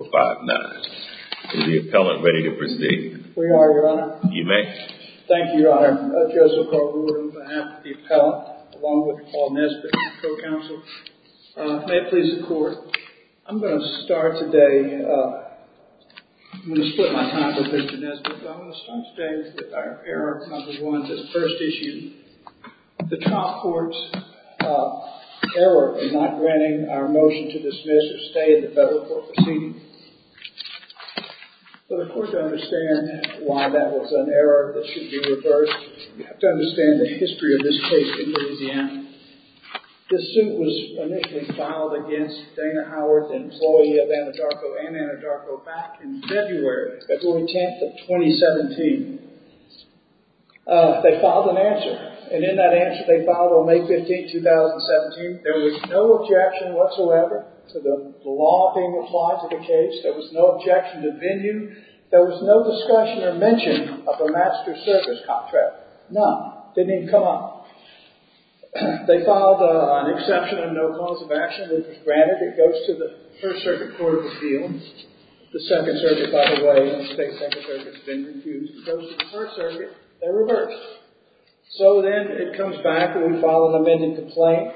5-9. Is the appellant ready to proceed? We are, Your Honor. You may. Thank you, Your Honor. Joseph Carl Reward on behalf of the appellant, along with Paul Nesbitt, co-counsel. May it please the Court, I'm going to start today, I'm going to split my time with Mr. Nesbitt, but I'm going to start today with our error, Council 1, that's the first issue. The trial court's error in not granting our motion to dismiss or stay in the federal court proceeding. For the Court to understand why that was an error that should be reversed, you have to understand the history of this case in Louisiana. This suit was initially filed against Dana Howard, the employee of Anadarko and Anadarko, back in February, February 10th of 2017. They filed an answer, and in that answer they filed on May 15th, 2017, there was no objection whatsoever to the law being applied to the case, there was no objection to venue, there was no discussion or mention of a master service contract. None. Didn't even come up. They filed an exception and no cause of action. Granted, it goes to the First Circuit Court of Appeals, the Second Circuit, by the way, and the State Secretary has been refused, it goes to the First Circuit, they're reversed. So then it comes back and we file an amended complaint.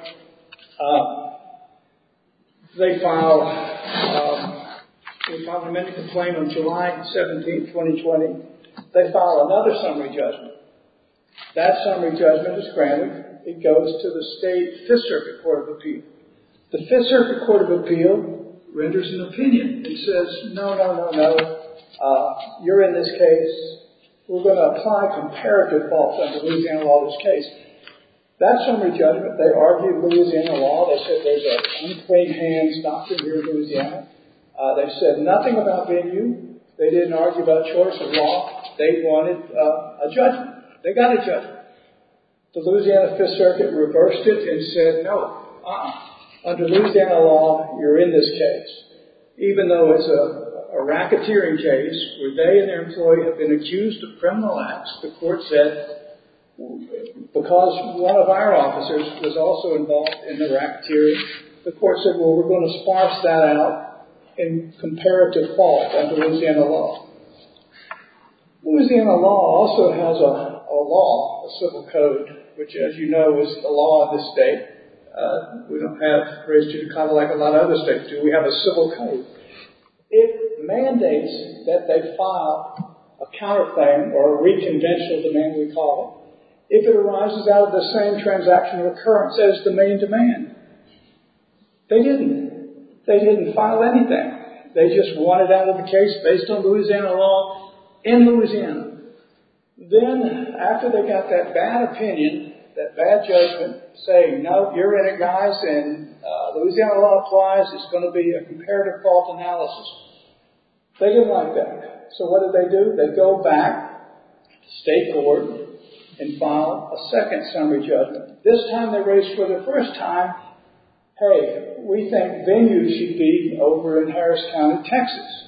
They filed an amended complaint on July 17th, 2020. They file another summary judgment. That summary judgment is granted. It goes to the State Fifth Circuit Court of Appeals. The Fifth Circuit Court of Appeals renders an opinion. It says, no, no, no, no. You're in this case. We're going to apply comparative faults under Louisiana law to this case. That summary judgment, they argued with Louisiana law, they said there's an in plain hands doctrine here in Louisiana. They said nothing about venue. They didn't argue about choice of law. They wanted a judgment. They got a judgment. The Louisiana Fifth Circuit reversed it and said, no, uh-uh. Under Louisiana law, you're in this case. Even though it's a racketeering case where they and their employee have been accused of criminal acts, the court said, because one of our officers was also involved in the racketeering, the court said, well, we're going to sparse that out in comparative fault under Louisiana law. Louisiana law also has a law, a civil code, which, as you know, is the law of this state. We don't have, or at least it's kind of like a lot of other states do, because we have a civil code. It mandates that they file a counter claim or a re-convention of the name we call it if it arises out of the same transactional occurrence as the main demand. They didn't. They didn't file anything. They just wanted out of a case based on Louisiana law in Louisiana. Then, after they got that bad opinion, that bad judgment, saying, no, you're in it, guys, and Louisiana law applies, it's going to be a comparative fault analysis. They didn't like that. So what did they do? They go back to state court and file a second summary judgment. This time they raised for the first time, hey, we think venue should be over in Harris Town in Texas.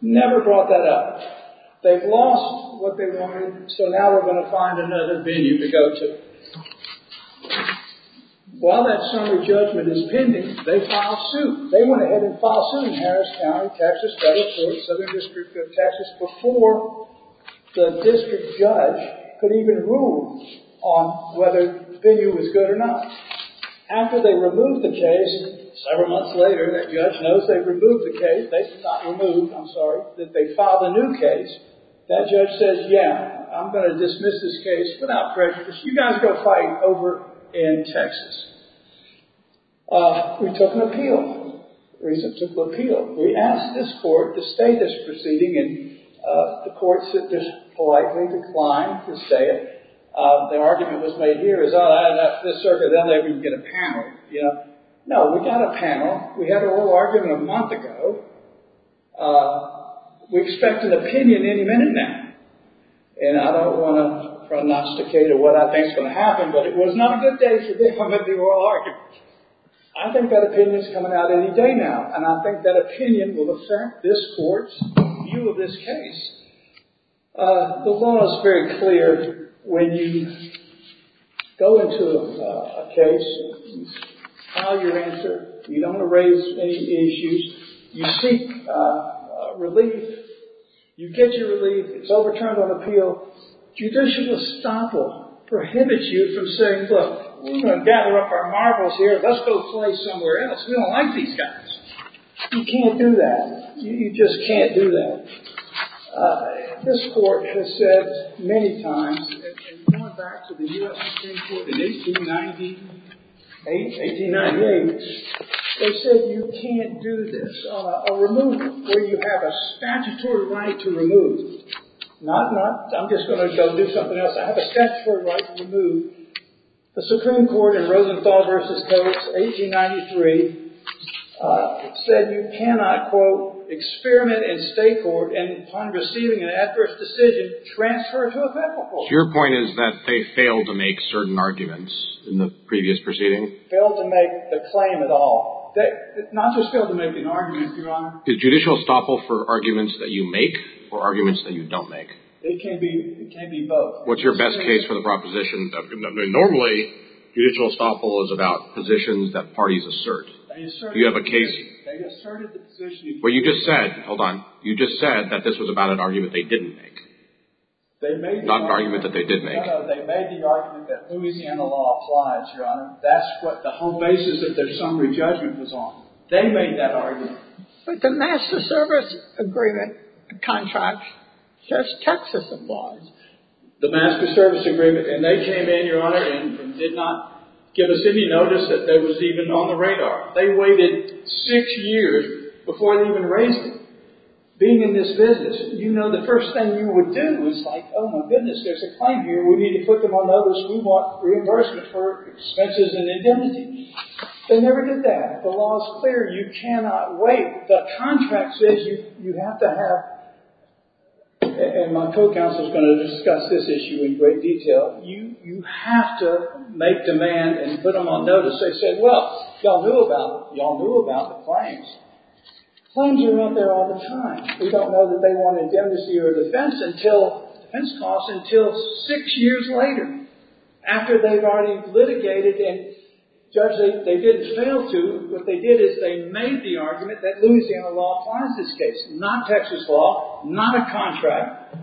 Never brought that up. They've lost what they wanted, so now we're going to find another venue to go to. While that summary judgment is pending, they file suit. They went ahead and filed suit in Harris Town, Texas, Federal Court, Southern District Court of Texas, before the district judge could even rule on whether venue was good or not. After they removed the case, several months later, that judge knows they've removed the case. They've not removed, I'm sorry, that they filed a new case. That judge says, yeah, I'm going to dismiss this case without prejudice. You guys go fight over in Texas. We took an appeal. The reason we took an appeal, we asked this court to stay this proceeding, and the court simply politely declined to stay it. Their argument was made here is, oh, I don't know, this circuit, they'll let me get a panel. No, we got a panel. We had a little argument a month ago. We expect an opinion any minute now. And I don't want to prognosticate what I think is going to happen, but it was not a good day for them if they were all arguing. I think that opinion is coming out any day now, and I think that opinion will affect this court's view of this case. The law is very clear. When you go into a case and file your answer, you don't want to raise any issues. You seek relief. You get your relief. It's overturned on appeal. Judicial estoppel prohibits you from saying, look, we're going to gather up our marvels here. Let's go play somewhere else. We don't like these guys. You can't do that. You just can't do that. This court has said many times, and going back to the U.S. Supreme Court in 1898, they said you can't do this, a removal where you have a statutory right to remove. Not, I'm just going to go do something else. I have a statutory right to remove. The Supreme Court in Rosenthal v. Coates, 1893, said you cannot, quote, experiment in state court and, upon receiving an adverse decision, transfer it to a federal court. Your point is that they failed to make certain arguments in the previous proceeding? Failed to make the claim at all. Not just failed to make an argument, Your Honor. Is judicial estoppel for arguments that you make or arguments that you don't make? It can be both. What's your best case for the proposition? Normally, judicial estoppel is about positions that parties assert. They asserted the position. Well, you just said, hold on, you just said that this was about an argument they didn't make. Not an argument that they did make. No, no, they made the argument that Louisiana law applies, Your Honor. That's what the whole basis of their summary judgment was on. They made that argument. But the Master Service Agreement contract says Texas applies. The Master Service Agreement, and they came in, Your Honor, and did not give us any notice that it was even on the radar. They waited six years before they even raised it. Being in this business, you know the first thing you would do is like, oh, my goodness, there's a claim here. We need to put them on notice. We want reimbursement for expenses and indemnity. They never did that. The law is clear. You cannot wait. The contract says you have to have, and my co-counsel is going to discuss this issue in great detail, you have to make demand and put them on notice. They said, well, y'all knew about it. Y'all knew about the claims. Claims are out there all the time. We don't know that they want indemnity or defense costs until six years later, after they've already litigated and judged that they didn't fail to. What they did is they made the argument that Louisiana law applies to this case, not Texas law, not a contract.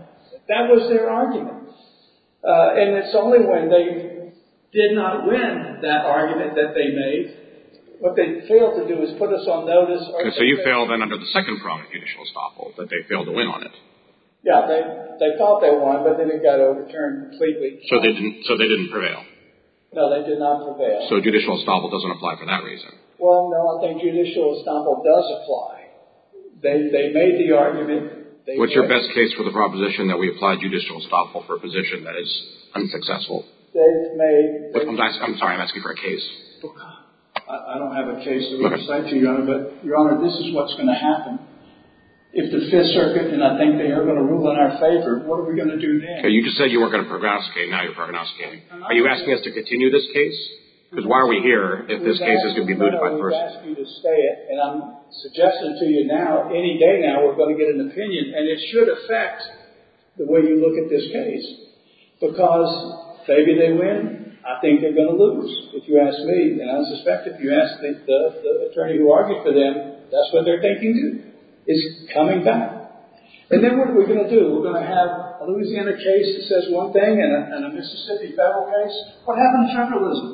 That was their argument. And it's only when they did not win that argument that they made. What they failed to do is put us on notice. So you failed then under the second prong of judicial estoppel, that they failed to win on it. Yeah, they thought they won, but then it got overturned completely. So they didn't prevail. No, they did not prevail. So judicial estoppel doesn't apply for that reason. Well, no, I think judicial estoppel does apply. They made the argument. What's your best case for the proposition that we applied judicial estoppel for a position that is unsuccessful? I'm sorry, I'm asking for a case. I don't have a case that we can cite to you, Your Honor. But, Your Honor, this is what's going to happen. If the Fifth Circuit, and I think they are going to rule in our favor, what are we going to do then? You just said you weren't going to prognosticate. Now you're prognosticating. Are you asking us to continue this case? Because why are we here if this case is going to be voted by the person? I would ask you to stay it. And I'm suggesting to you now, any day now, we're going to get an opinion. And it should affect the way you look at this case. Because maybe they win. I think they're going to lose. If you ask me, and I suspect if you ask the attorney who argued for them, that's what they're thinking too. It's coming back. And then what are we going to do? We're going to have a Louisiana case that says one thing and a Mississippi federal case? What happens to federalism?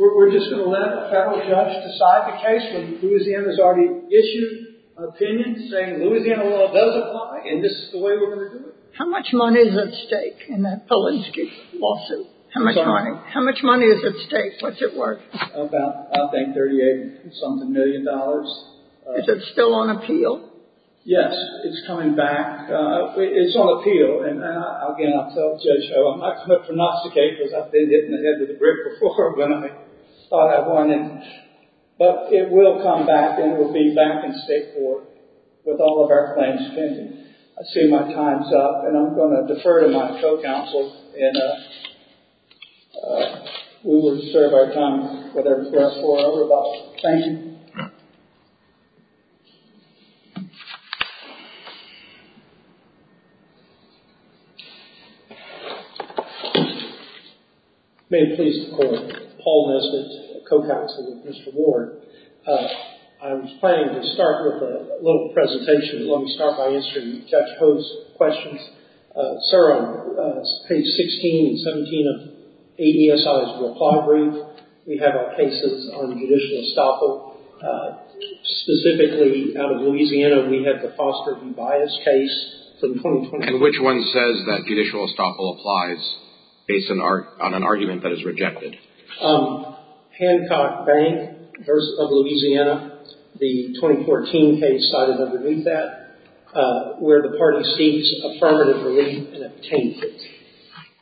We're just going to let a federal judge decide the case when Louisiana has already issued an opinion saying Louisiana law does apply and this is the way we're going to do it? How much money is at stake in that Polanski lawsuit? How much money is at stake? What's it worth? About, I think, $38-something million. Is it still on appeal? Yes. It's coming back. It's on appeal. And again, I'll tell Judge Ho. I'm not going to prognosticate because I've been hit in the head with a brick before when I thought I'd won it. But it will come back and it will be back in state court with all of our claims pending. I see my time's up and I'm going to defer to my co-counsel and we will reserve our time for the rest of our rebuttal. Thank you. May it please the Court. Paul Nesbitt, co-counsel with Mr. Ward. I was planning to start with a little presentation. Let me start by answering Judge Ho's questions. Sir, on page 16 and 17 of AESI's reply brief, we have our cases on judicial estoppel. Specifically, out of Louisiana, we have the Foster v. Bias case. And which one says that judicial estoppel applies based on an argument that is rejected? Hancock Bank v. Louisiana, the 2014 case cited underneath that, where the party seeks affirmative relief and obtains it.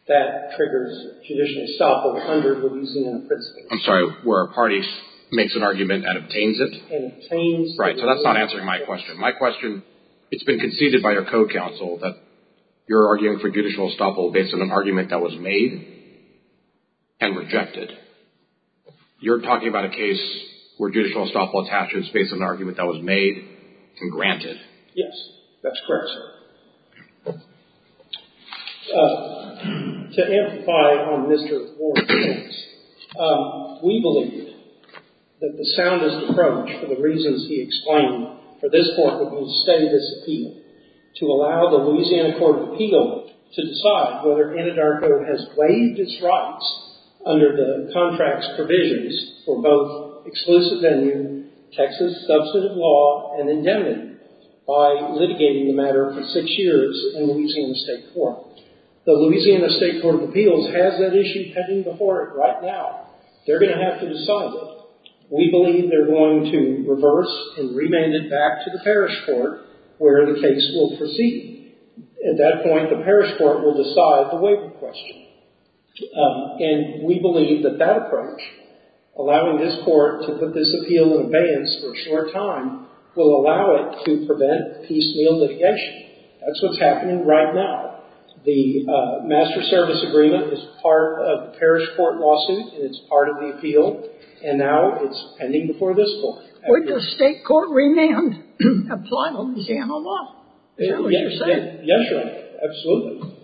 That triggers judicial estoppel under Louisiana principles. I'm sorry, where a party makes an argument and obtains it? And obtains it. Right, so that's not answering my question. It's been conceded by your co-counsel that you're arguing for judicial estoppel based on an argument that was made and rejected. You're talking about a case where judicial estoppel attaches based on an argument that was made and granted. Yes, that's correct, sir. To amplify on Mr. Ward's case, we believe that the soundest approach for the reasons he explained for this court would be to study this appeal. To allow the Louisiana Court of Appeal to decide whether Anadarko has waived his rights under the contract's provisions for both exclusive venue, Texas substantive law, and indemnity by litigating the matter for six years in Louisiana State Court. The Louisiana State Court of Appeals has that issue pending before it right now. They're going to have to decide that. We believe they're going to reverse and remand it back to the parish court where the case will proceed. At that point, the parish court will decide the waiver question. And we believe that that approach, allowing this court to put this appeal in abeyance for a short time, will allow it to prevent piecemeal litigation. That's what's happening right now. The master service agreement is part of the parish court lawsuit, and it's part of the appeal. And now it's pending before this court. Would the state court remand a final exam of law? Is that what you're saying? Yes, sir. Absolutely.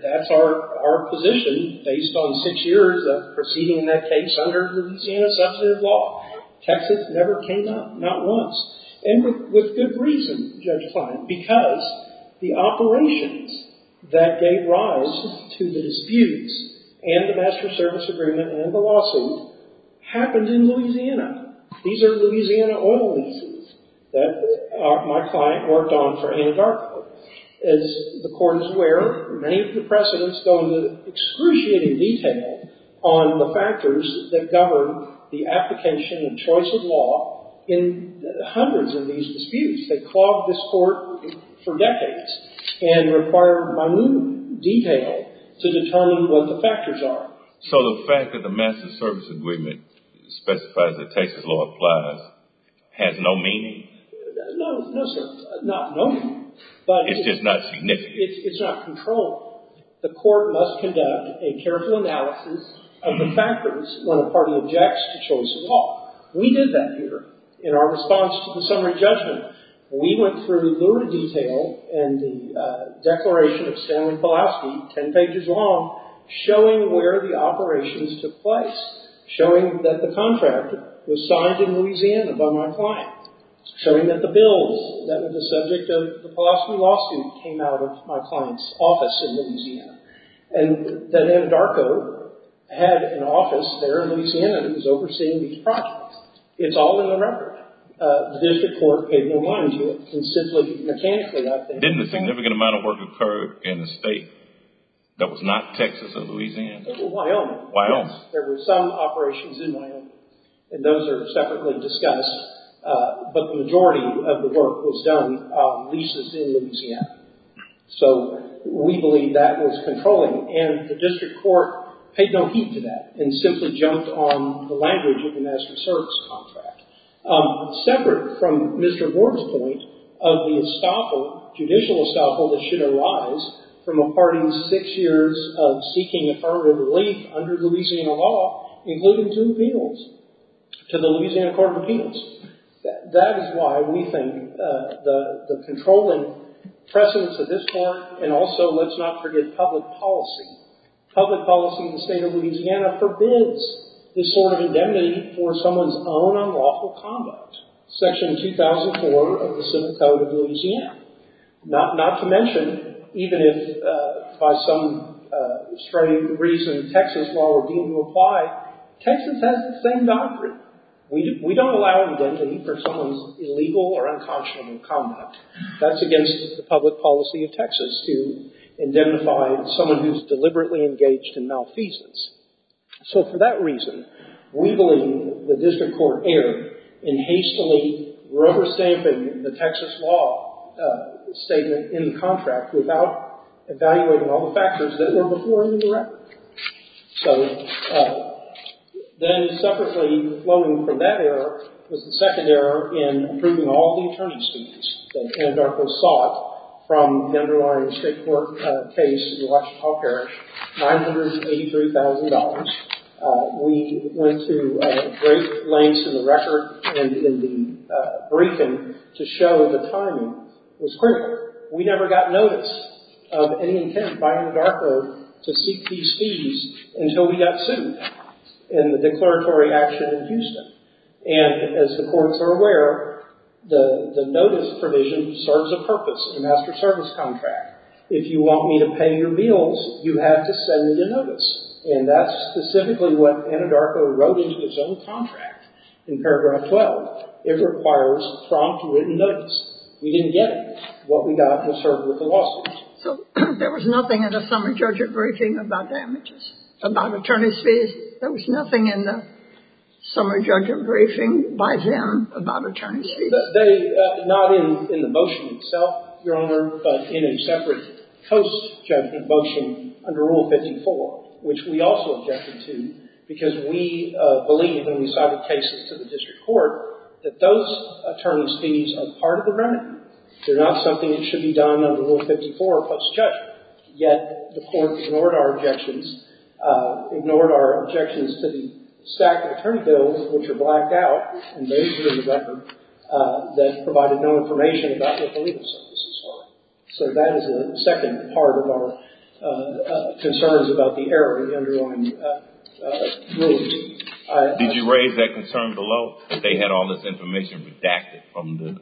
That's our position based on six years of proceeding that case under Louisiana substantive law. Texas never came down, not once, and with good reason, Judge Klein, because the operations that gave rise to the disputes and the master service agreement and the lawsuit happened in Louisiana. These are Louisiana oil leases that my client worked on for Anadarko. As the court is aware, many of the precedents go into excruciating detail on the factors that govern the application and choice of law in hundreds of these disputes. They clogged this court for decades and required minute detail to determine what the factors are. So the fact that the master service agreement specifies that Texas law applies has no meaning? No, no, sir. Not no meaning. It's just not significant. It's not controlled. The court must conduct a careful analysis of the factors when a party objects to choice of law. We did that here in our response to the summary judgment. We went through little detail and the declaration of Stanley Pulaski, ten pages long, showing where the operations took place, showing that the contract was signed in Louisiana by my client, showing that the bills that were the subject of the Pulaski lawsuit came out of my client's office in Louisiana, and that Anadarko had an office there in Louisiana who was overseeing these projects. It's all in the record. The district court gave no warning to it. It was simply mechanically out there. Didn't a significant amount of work occur in the state that was not Texas or Louisiana? Wyoming. Wyoming. There were some operations in Wyoming, and those are separately discussed, but the majority of the work was done on leases in Louisiana. So we believe that was controlling, and the district court paid no heed to that and simply jumped on the language of the master service contract. Separate from Mr. Gore's point of the estoppel, judicial estoppel, that should arise from a party's six years of seeking affirmative relief under Louisiana law, including two appeals to the Louisiana Court of Appeals. That is why we think the controlling precedence of this court, and also let's not forget public policy. Public policy in the state of Louisiana forbids this sort of indemnity for someone's own unlawful conduct. Section 2004 of the Civil Code of Louisiana. Not to mention, even if by some strange reason Texas law were deemed to apply, Texas has the same doctrine. We don't allow indemnity for someone's illegal or unconscionable conduct. That's against the public policy of Texas to indemnify someone who's deliberately engaged in malfeasance. So for that reason, we believe the district court erred in hastily rubber stamping the Texas law statement in the contract without evaluating all the factors that were before it in the record. So then separately flowing from that error was the second error in approving all the attorney's fees that Anadarko sought from the underlying district court case in Washtenaw Parish, $983,000. We went to great lengths in the record and in the briefing to show the timing was correct. We never got notice of any intent by Anadarko to seek these fees until we got sued in the declaratory action in Houston. And as the courts are aware, the notice provision serves a purpose in a master service contract. If you want me to pay your bills, you have to send me the notice. And that's specifically what Anadarko wrote into its own contract in paragraph 12. It requires prompt written notice. We didn't get it. What we got was served with the lawsuit. So there was nothing in the summary judge's briefing about damages, about attorney's fees. There was nothing in the summary judge's briefing by them about attorney's fees. Not in the motion itself, Your Honor, but in a separate post-judgment motion under Rule 54, which we also objected to, because we believed when we cited cases to the district court that those attorney's fees are part of the remedy. They're not something that should be done under Rule 54 post-judgment. Yet the court ignored our objections, ignored our objections to the stack of attorney bills, which are blacked out and raised here in the record, that provided no information about what the legal services are. So that is the second part of our concerns about the error in the underlying rules. Did you raise that concern below, that they had all this information redacted from the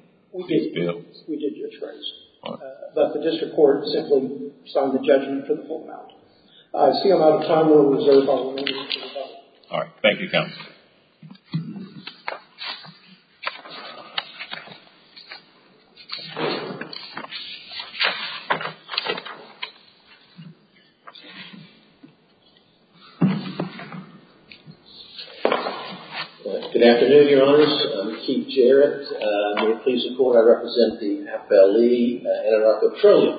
fees bill? We did just raise it. But the district court simply signed the judgment for the full amount. I see I'm out of time. We'll reserve all the remaining time. All right. Thank you, counsel. Good afternoon, Your Honors. I'm Keith Jarrett. May it please the Court, I represent the FLE Anadarko Trillium.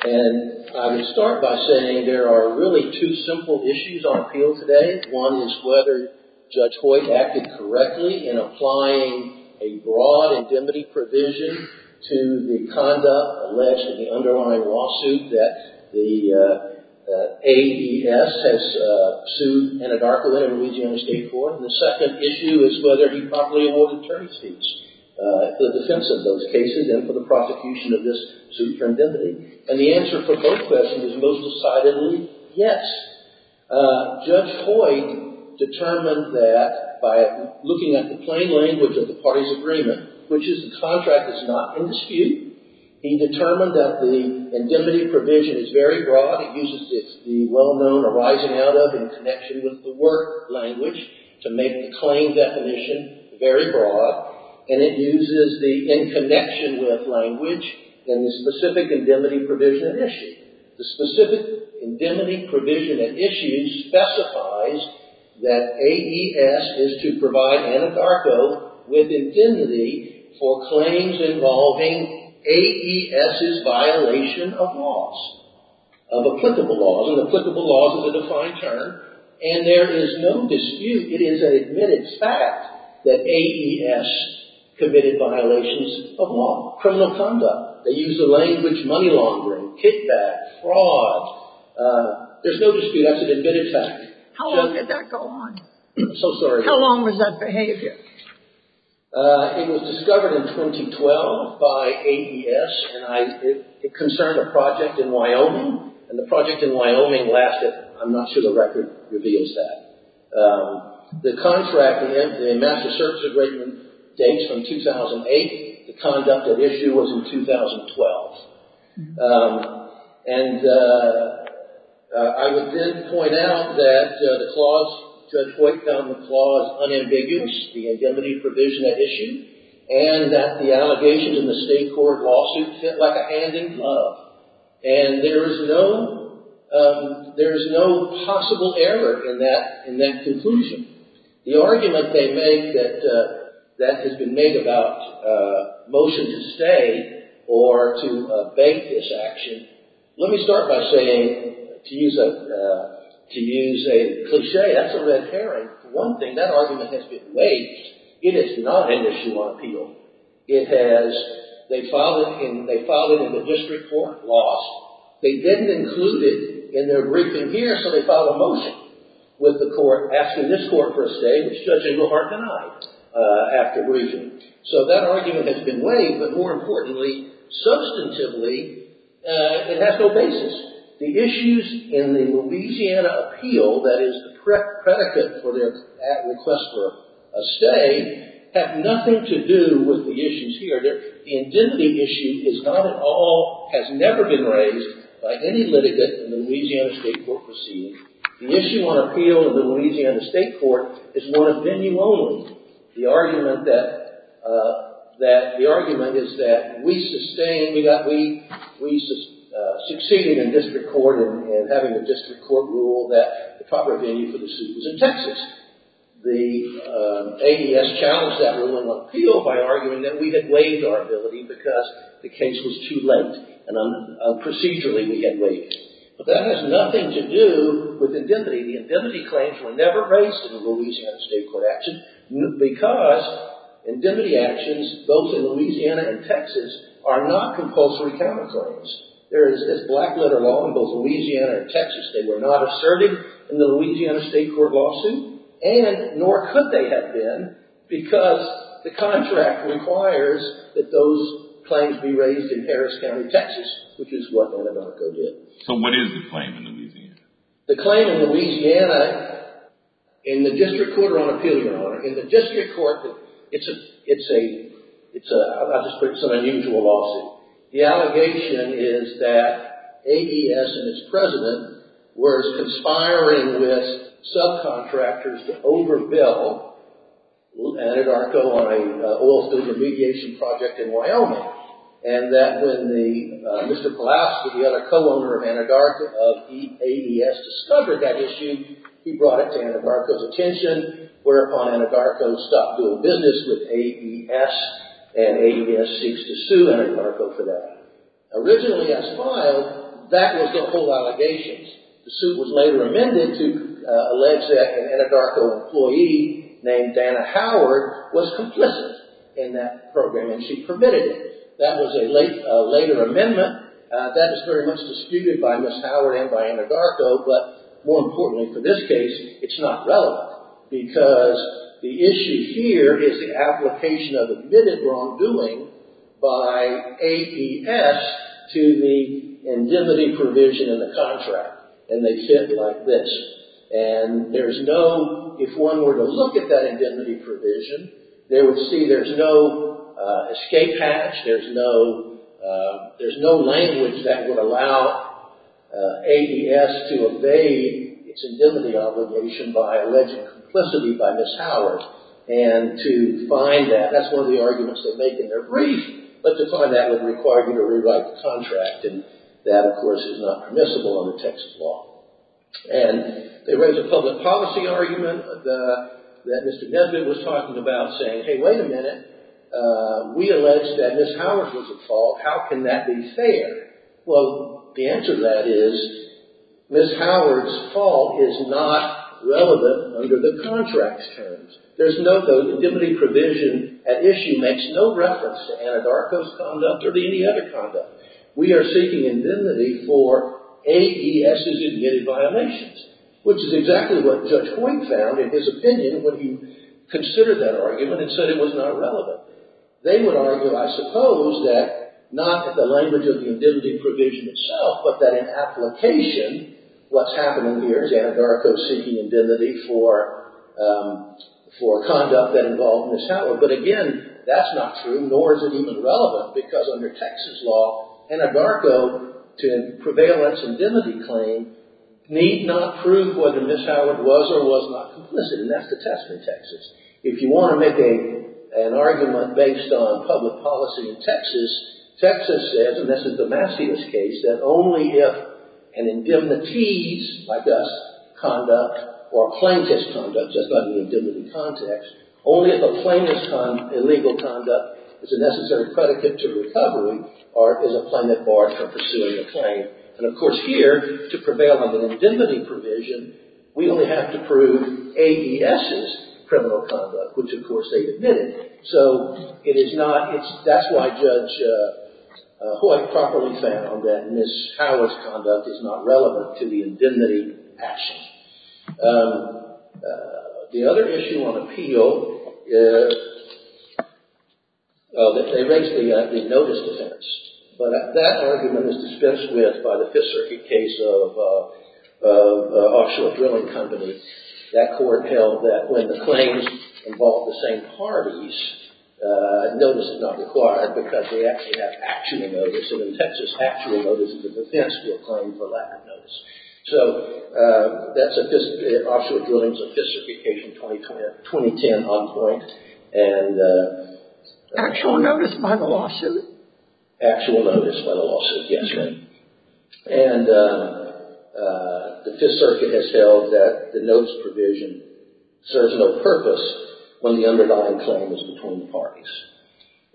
And I would start by saying there are really two simple issues on appeal today. One is whether Judge Hoyt acted correctly in applying a broad indemnity provision to the conduct alleged in the underlying lawsuit that the AES has sued Anadarko in, in Louisiana State Court. And the second issue is whether he properly awarded term fees for the defense of those cases and for the prosecution of this suit for indemnity. And the answer for both questions is most decidedly yes. Judge Hoyt determined that by looking at the plain language of the parties' agreement, which is the contract is not in dispute. He determined that the indemnity provision is very broad. It uses the well-known arising out of in connection with the work language to make the claim definition very broad. And it uses the in connection with language in the specific indemnity provision at issue. The specific indemnity provision at issue specifies that AES is to provide Anadarko with indemnity for claims involving AES's violation of laws, of applicable laws. And applicable laws is a defined term. And there is no dispute. It is an admitted fact that AES committed violations of law. Criminal conduct. They use the language money laundering, kickback, fraud. There's no dispute. That's an admitted fact. How long did that go on? I'm so sorry. How long was that behavior? It was discovered in 2012 by AES. And it concerned a project in Wyoming. And the project in Wyoming lasted, I'm not sure the record reveals that. The contract, the master service agreement, dates from 2008. The conduct at issue was in 2012. And I would then point out that the clause, Judge White found the clause unambiguous, the indemnity provision at issue, and that the allegation in the state court lawsuit fit like a hand in glove. And there is no possible error in that conclusion. The argument they make that has been made about motion to stay or to evade this action, let me start by saying, to use a cliche, that's a red herring. One thing, that argument has been waived. It is not an issue on appeal. It has, they filed it in the district court, lost. They didn't include it in their briefing here, so they filed a motion with the court asking this court for a stay, which Judge Engelhardt denied after briefing. So that argument has been waived, but more importantly, substantively, it has no basis. The issues in the Louisiana appeal, that is the predicate for their request for a stay, have nothing to do with the issues here. The indemnity issue is not at all, has never been raised by any litigant in the Louisiana state court proceeding. The issue on appeal in the Louisiana state court is one of venue only. The argument that, the argument is that we sustained, we succeeded in district court in having a district court rule that the proper venue for the suit was in Texas. The ADS challenged that rule in appeal by arguing that we had waived our ability because the case was too late, and procedurally we had waived it. But that has nothing to do with indemnity. The indemnity claims were never raised in the Louisiana state court action because indemnity actions, both in Louisiana and Texas, are not compulsory county claims. There is this black letter law in both Louisiana and Texas. They were not asserted in the Louisiana state court lawsuit, and nor could they have been because the contract requires that those claims be raised in Harris County, Texas, which is what Anadarko did. So what is the claim in Louisiana? The claim in Louisiana, in the district court on appeal, Your Honor, in the district court, it's a, I'll just put it, it's an unusual lawsuit. The allegation is that ADS and its president were conspiring with subcontractors to overbill Anadarko on an oil spill remediation project in Wyoming, and that when Mr. Palouse, the other co-owner of ADS, discovered that issue, he brought it to Anadarko's attention, whereupon Anadarko stopped doing business with ADS, and ADS seeks to sue Anadarko for that. Originally as filed, that was the whole allegations. The suit was later amended to allege that an Anadarko employee named Dana Howard was complicit in that program, and she permitted it. That was a later amendment. That is very much disputed by Ms. Howard and by Anadarko, but more importantly for this case, it's not relevant because the issue here is the application of admitted wrongdoing by ADS to the indemnity provision in the contract, and they fit like this. And there's no, if one were to look at that indemnity provision, they would see there's no escape hatch, there's no language that would allow ADS to evade its indemnity obligation by alleging complicity by Ms. Howard, and to find that, that's one of the arguments they make in their brief, but to find that would require you to rewrite the contract, and that, of course, is not permissible under Texas law. And they raise a public policy argument that Mr. Nesbitt was talking about, saying, hey, wait a minute, we allege that Ms. Howard was at fault. How can that be fair? Well, the answer to that is Ms. Howard's fault is not relevant under the contract's terms. There's no, the indemnity provision at issue makes no reference to Anadarko's conduct or to any other conduct. We are seeking indemnity for ADS's admitted violations, which is exactly what Judge Hoyne found in his opinion when he considered that argument and said it was not relevant. They would argue, I suppose, that not in the language of the indemnity provision itself, but that in application, what's happening here is Anadarko seeking indemnity for conduct that involved Ms. Howard. But again, that's not true, nor is it even relevant, because under Texas law, Anadarko to prevail its indemnity claim need not prove whether Ms. Howard was or was not complicit, and that's the test in Texas. If you want to make an argument based on public policy in Texas, Texas says, and this is Damasio's case, that only if an indemnities, like us, conduct, or a plaintiff's conduct, that's not in the indemnity context, only if a plaintiff's illegal conduct is a necessary predicate to recovery or is a claimant barred from pursuing a claim. And, of course, here, to prevail under the indemnity provision, we only have to prove ADS's criminal conduct, which, of course, they admitted. So, it is not, that's why Judge Hoy properly found that Ms. Howard's conduct is not relevant to the indemnity action. The other issue on appeal, they raised the notice defense, but that argument is dispensed with by the Fifth Circuit case of Offshore Drilling Company. That court held that when the claims involve the same parties, notice is not required because they actually have actual notice, and in Texas, actual notice is a defense for a claim for lack of notice. So, that's Offshore Drilling's Fiss Certification 2010 on point, and Actual notice by the lawsuit? Actual notice by the lawsuit, yes, ma'am. And the Fifth Circuit has held that the notice provision serves no purpose when the underlying claim is between the parties.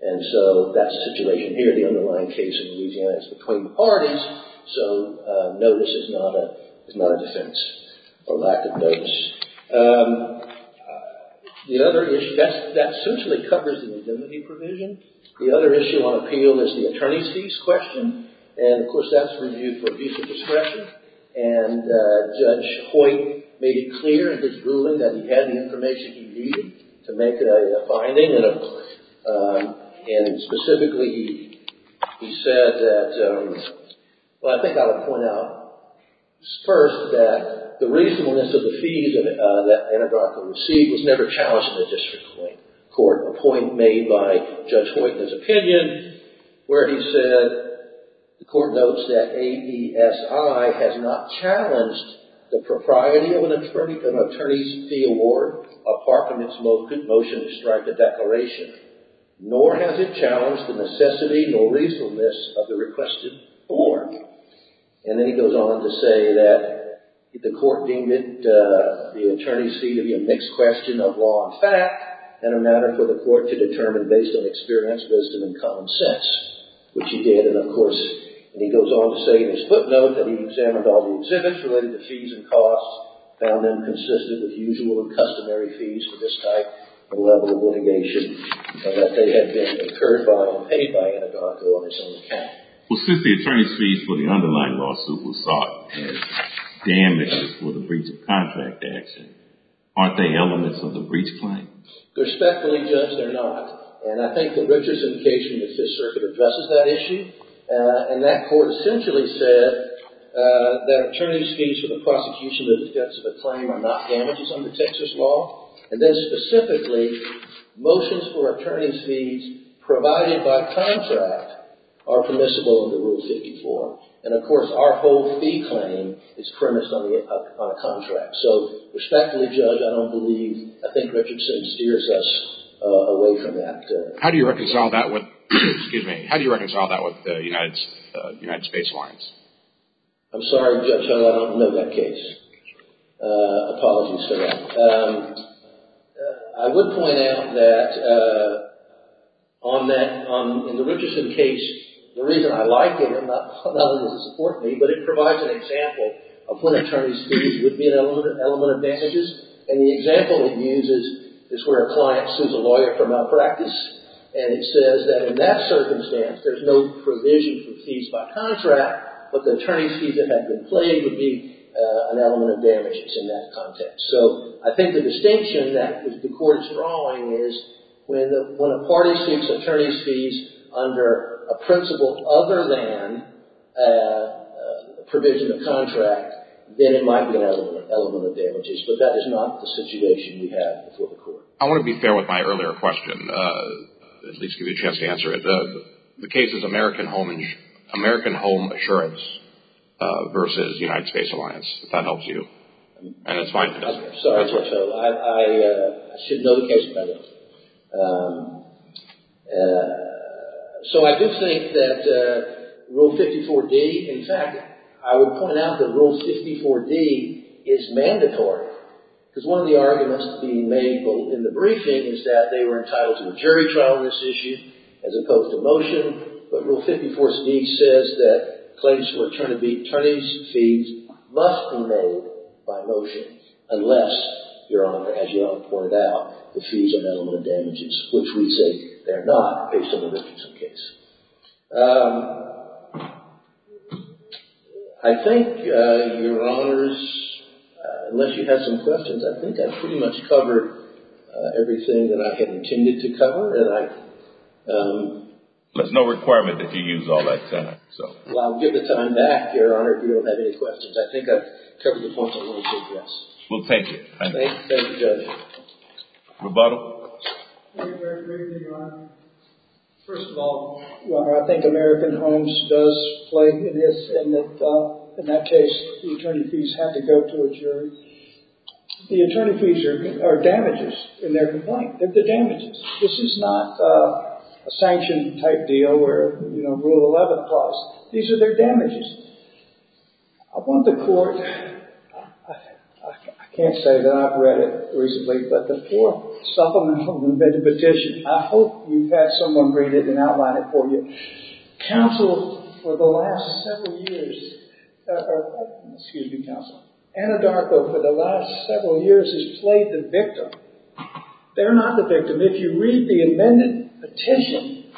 And so, that's the situation here. The underlying case in Louisiana is between the parties, so notice is not a defense for lack of notice. The other issue, that essentially covers the indemnity provision. The other issue on appeal is the attorney's fees question, and of course, that's reviewed for abuse of discretion, and Judge Hoyt made it clear in his ruling that he had the information he needed to make a finding, and specifically, he said that, well, I think I'll point out first that the reasonableness of the fees that Anadarko received was never challenged in the district court, a point made by Judge Hoyt in his opinion, where he said, the court notes that AESI has not challenged the propriety of an attorney's fee award, apart from its motion to strike a declaration, nor has it challenged the necessity nor reasonableness of the requested award. And then he goes on to say that the court deemed the attorney's fee to be a mixed question of law and fact, and a matter for the court to determine based on experience, wisdom, and common sense, which he did. And of course, he goes on to say in his footnote that he examined all the exhibits related to fees and costs, found them consistent with usual and customary fees for this type of level of litigation, and that they had been incurred by and paid by Anadarko on his own account. Well, since the attorney's fees for the underlying lawsuit was sought, and damages for the breach of contract action, aren't they elements of the breach claim? Respectfully, Judge, they're not. And I think that Richard's indication in the Fifth Circuit addresses that issue. And that court essentially said that attorney's fees for the prosecution of the defense of a claim are not damages under Texas law. And then specifically, motions for attorney's fees provided by contract are permissible under Rule 54. And of course, our whole fee claim is premised on a contract. So respectfully, Judge, I don't believe, I think Richardson steers us away from that. How do you reconcile that with the United States warrants? I'm sorry, Judge, I don't know that case. Apologies for that. I would point out that in the Richardson case, the reason I like it, not only does it support me, but it provides an example of when attorney's fees would be an element of damages. And the example it uses is where a client sues a lawyer for malpractice. And it says that in that circumstance, there's no provision for fees by contract, but the attorney's fees that have been paid would be an element of damages in that context. So I think the distinction that the court is drawing is when a party sues attorney's fees under a principle other than a provision of contract, then it might be an element of damages. But that is not the situation we have before the court. I want to be fair with my earlier question, at least give you a chance to answer it. The case is American Home Assurance versus United Space Alliance, if that helps you. And it's fine if it doesn't. Sorry. I should know the case better. So I do think that Rule 54D, in fact, I would point out that Rule 54D is mandatory. Because one of the arguments being made both in the briefing is that they were entitled to a jury trial on this issue as opposed to motion. But Rule 54D says that claims for attorney's fees must be made by motion unless, Your Honor, as Young pointed out, the fees are an element of damages, which we think they're not, based on the Richardson case. I think, Your Honors, unless you have some questions, I think I pretty much covered everything that I had intended to cover. There's no requirement that you use all that time. Well, I'll give the time back, Your Honor, if you don't have any questions. I think I've covered the point that I wanted to address. We'll take it. Thank you, Judge. Rebuttal? I think they're agreeing, Your Honor. First of all, Your Honor, I think American Homes does play in this, in that in that case, the attorney fees have to go to a jury. The attorney fees are damages in their complaint. They're damages. This is not a sanction-type deal where, you know, Rule 11 clause. These are their damages. I want the court, I can't say that I've read it recently, but the Fourth Supplemental Petition, I hope you've had someone read it and outline it for you, counsel for the last several years, excuse me, counsel, Anadarko for the last several years has played the victim. They're not the victim. If you read the amended petition,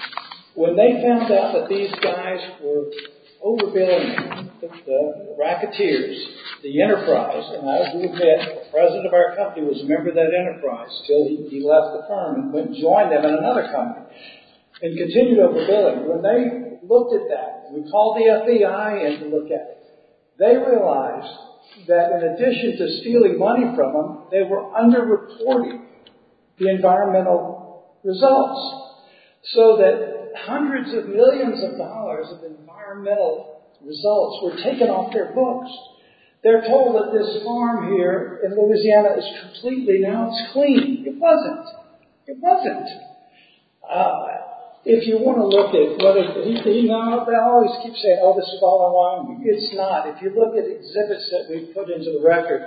when they found out that these guys were overbilling the racketeers, the enterprise, and I have to admit, the president of our company was a member of that enterprise until he left the firm and went and joined them in another company and continued overbilling. When they looked at that, we called the FBI in to look at it. They realized that in addition to stealing money from them, they were under-reporting the environmental results, so that hundreds of millions of dollars of environmental results were taken off their books. They're told that this farm here in Louisiana is completely, now it's clean. It wasn't. It wasn't. If you want to look at whether he's being honest, they always keep saying, oh, this is all our money. It's not. If you look at exhibits that we've put into the record,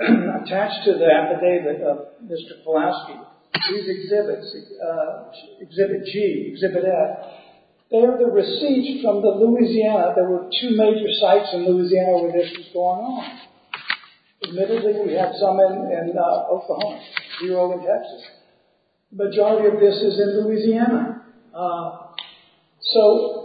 attached to that, the name of Mr. Pulaski, these exhibits, Exhibit G, Exhibit F, they're the receipts from Louisiana. There were two major sites in Louisiana where this was going on. Admittedly, we had some in Oklahoma, zero in Texas. The majority of this is in Louisiana. So,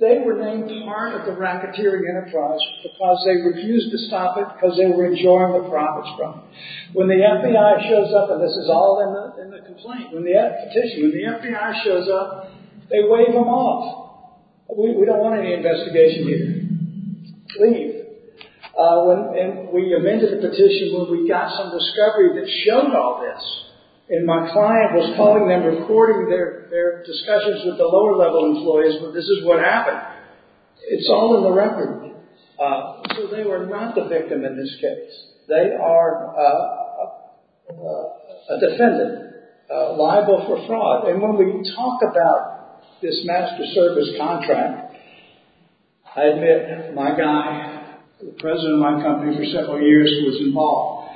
they were named part of the racketeering enterprise because they refused to stop it because they were enjoying the profits from it. When the FBI shows up, and this is all in the complaint, when the FBI shows up, they wave them off. We don't want any investigation here. Leave. We amended the petition when we got some discovery that showed all this, and my client was calling them, recording their discussions with the lower-level employees, but this is what happened. It's all in the record. So, they were not the victim in this case. They are a defendant, liable for fraud. And when we talk about this master service contract, I admit my guy, the president of my company for several years, was involved.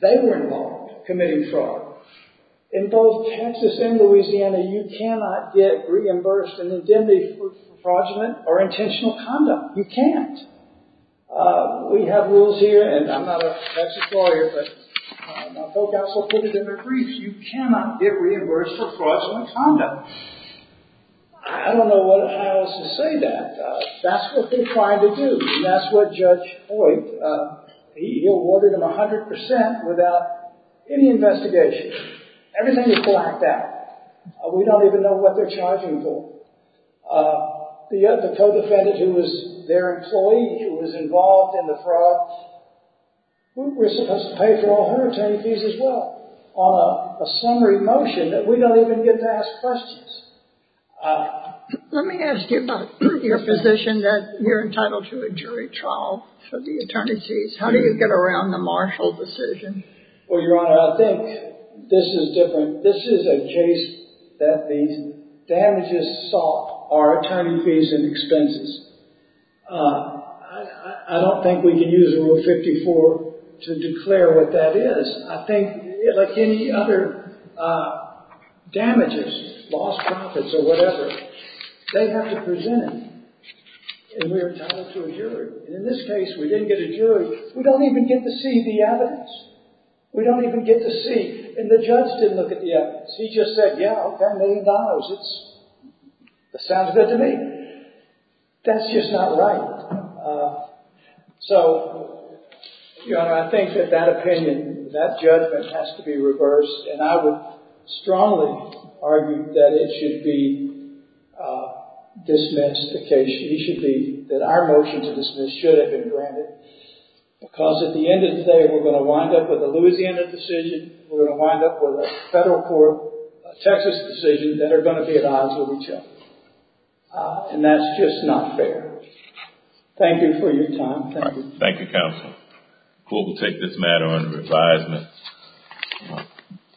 They were involved committing fraud. In both Texas and Louisiana, you cannot get reimbursed an indemnity for fraudulent or intentional condom. You can't. We have rules here, and I'm not a Mexican lawyer, but my folk also put it in their briefs. You cannot get reimbursed for fraudulent condom. I don't know what it is to say that. That's what they're trying to do, and that's what Judge Hoyt, he awarded them 100% without any investigation. Everything is blacked out. We don't even know what they're charging for. The co-defendant who was their employee, who was involved in the fraud, we're supposed to pay for all her attorney fees as well, on a summary motion that we don't even get to ask questions. Let me ask you about your position that you're entitled to a jury trial for the attorney's fees. How do you get around the Marshall decision? Well, Your Honor, I think this is different. This is a case that the damages sought are attorney fees and expenses. I don't think we can use Rule 54 to declare what that is. I think, like any other damages, lost profits or whatever, they have to present it, and we're entitled to a jury. In this case, we didn't get a jury. We don't even get to see the evidence. We don't even get to see. And the judge didn't look at the evidence. He just said, yeah, okay, a million dollars. That sounds good to me. That's just not right. So, Your Honor, I think that that opinion, that judgment has to be reversed, and I would strongly argue that it should be dismissed, that our motion to dismiss should have been granted, because at the end of the day, we're going to wind up with a Louisiana decision, we're going to wind up with a federal court, a Texas decision, that are going to be at odds with each other. And that's just not fair. Thank you for your time. Thank you. Thank you, counsel. We'll take this matter under advisement.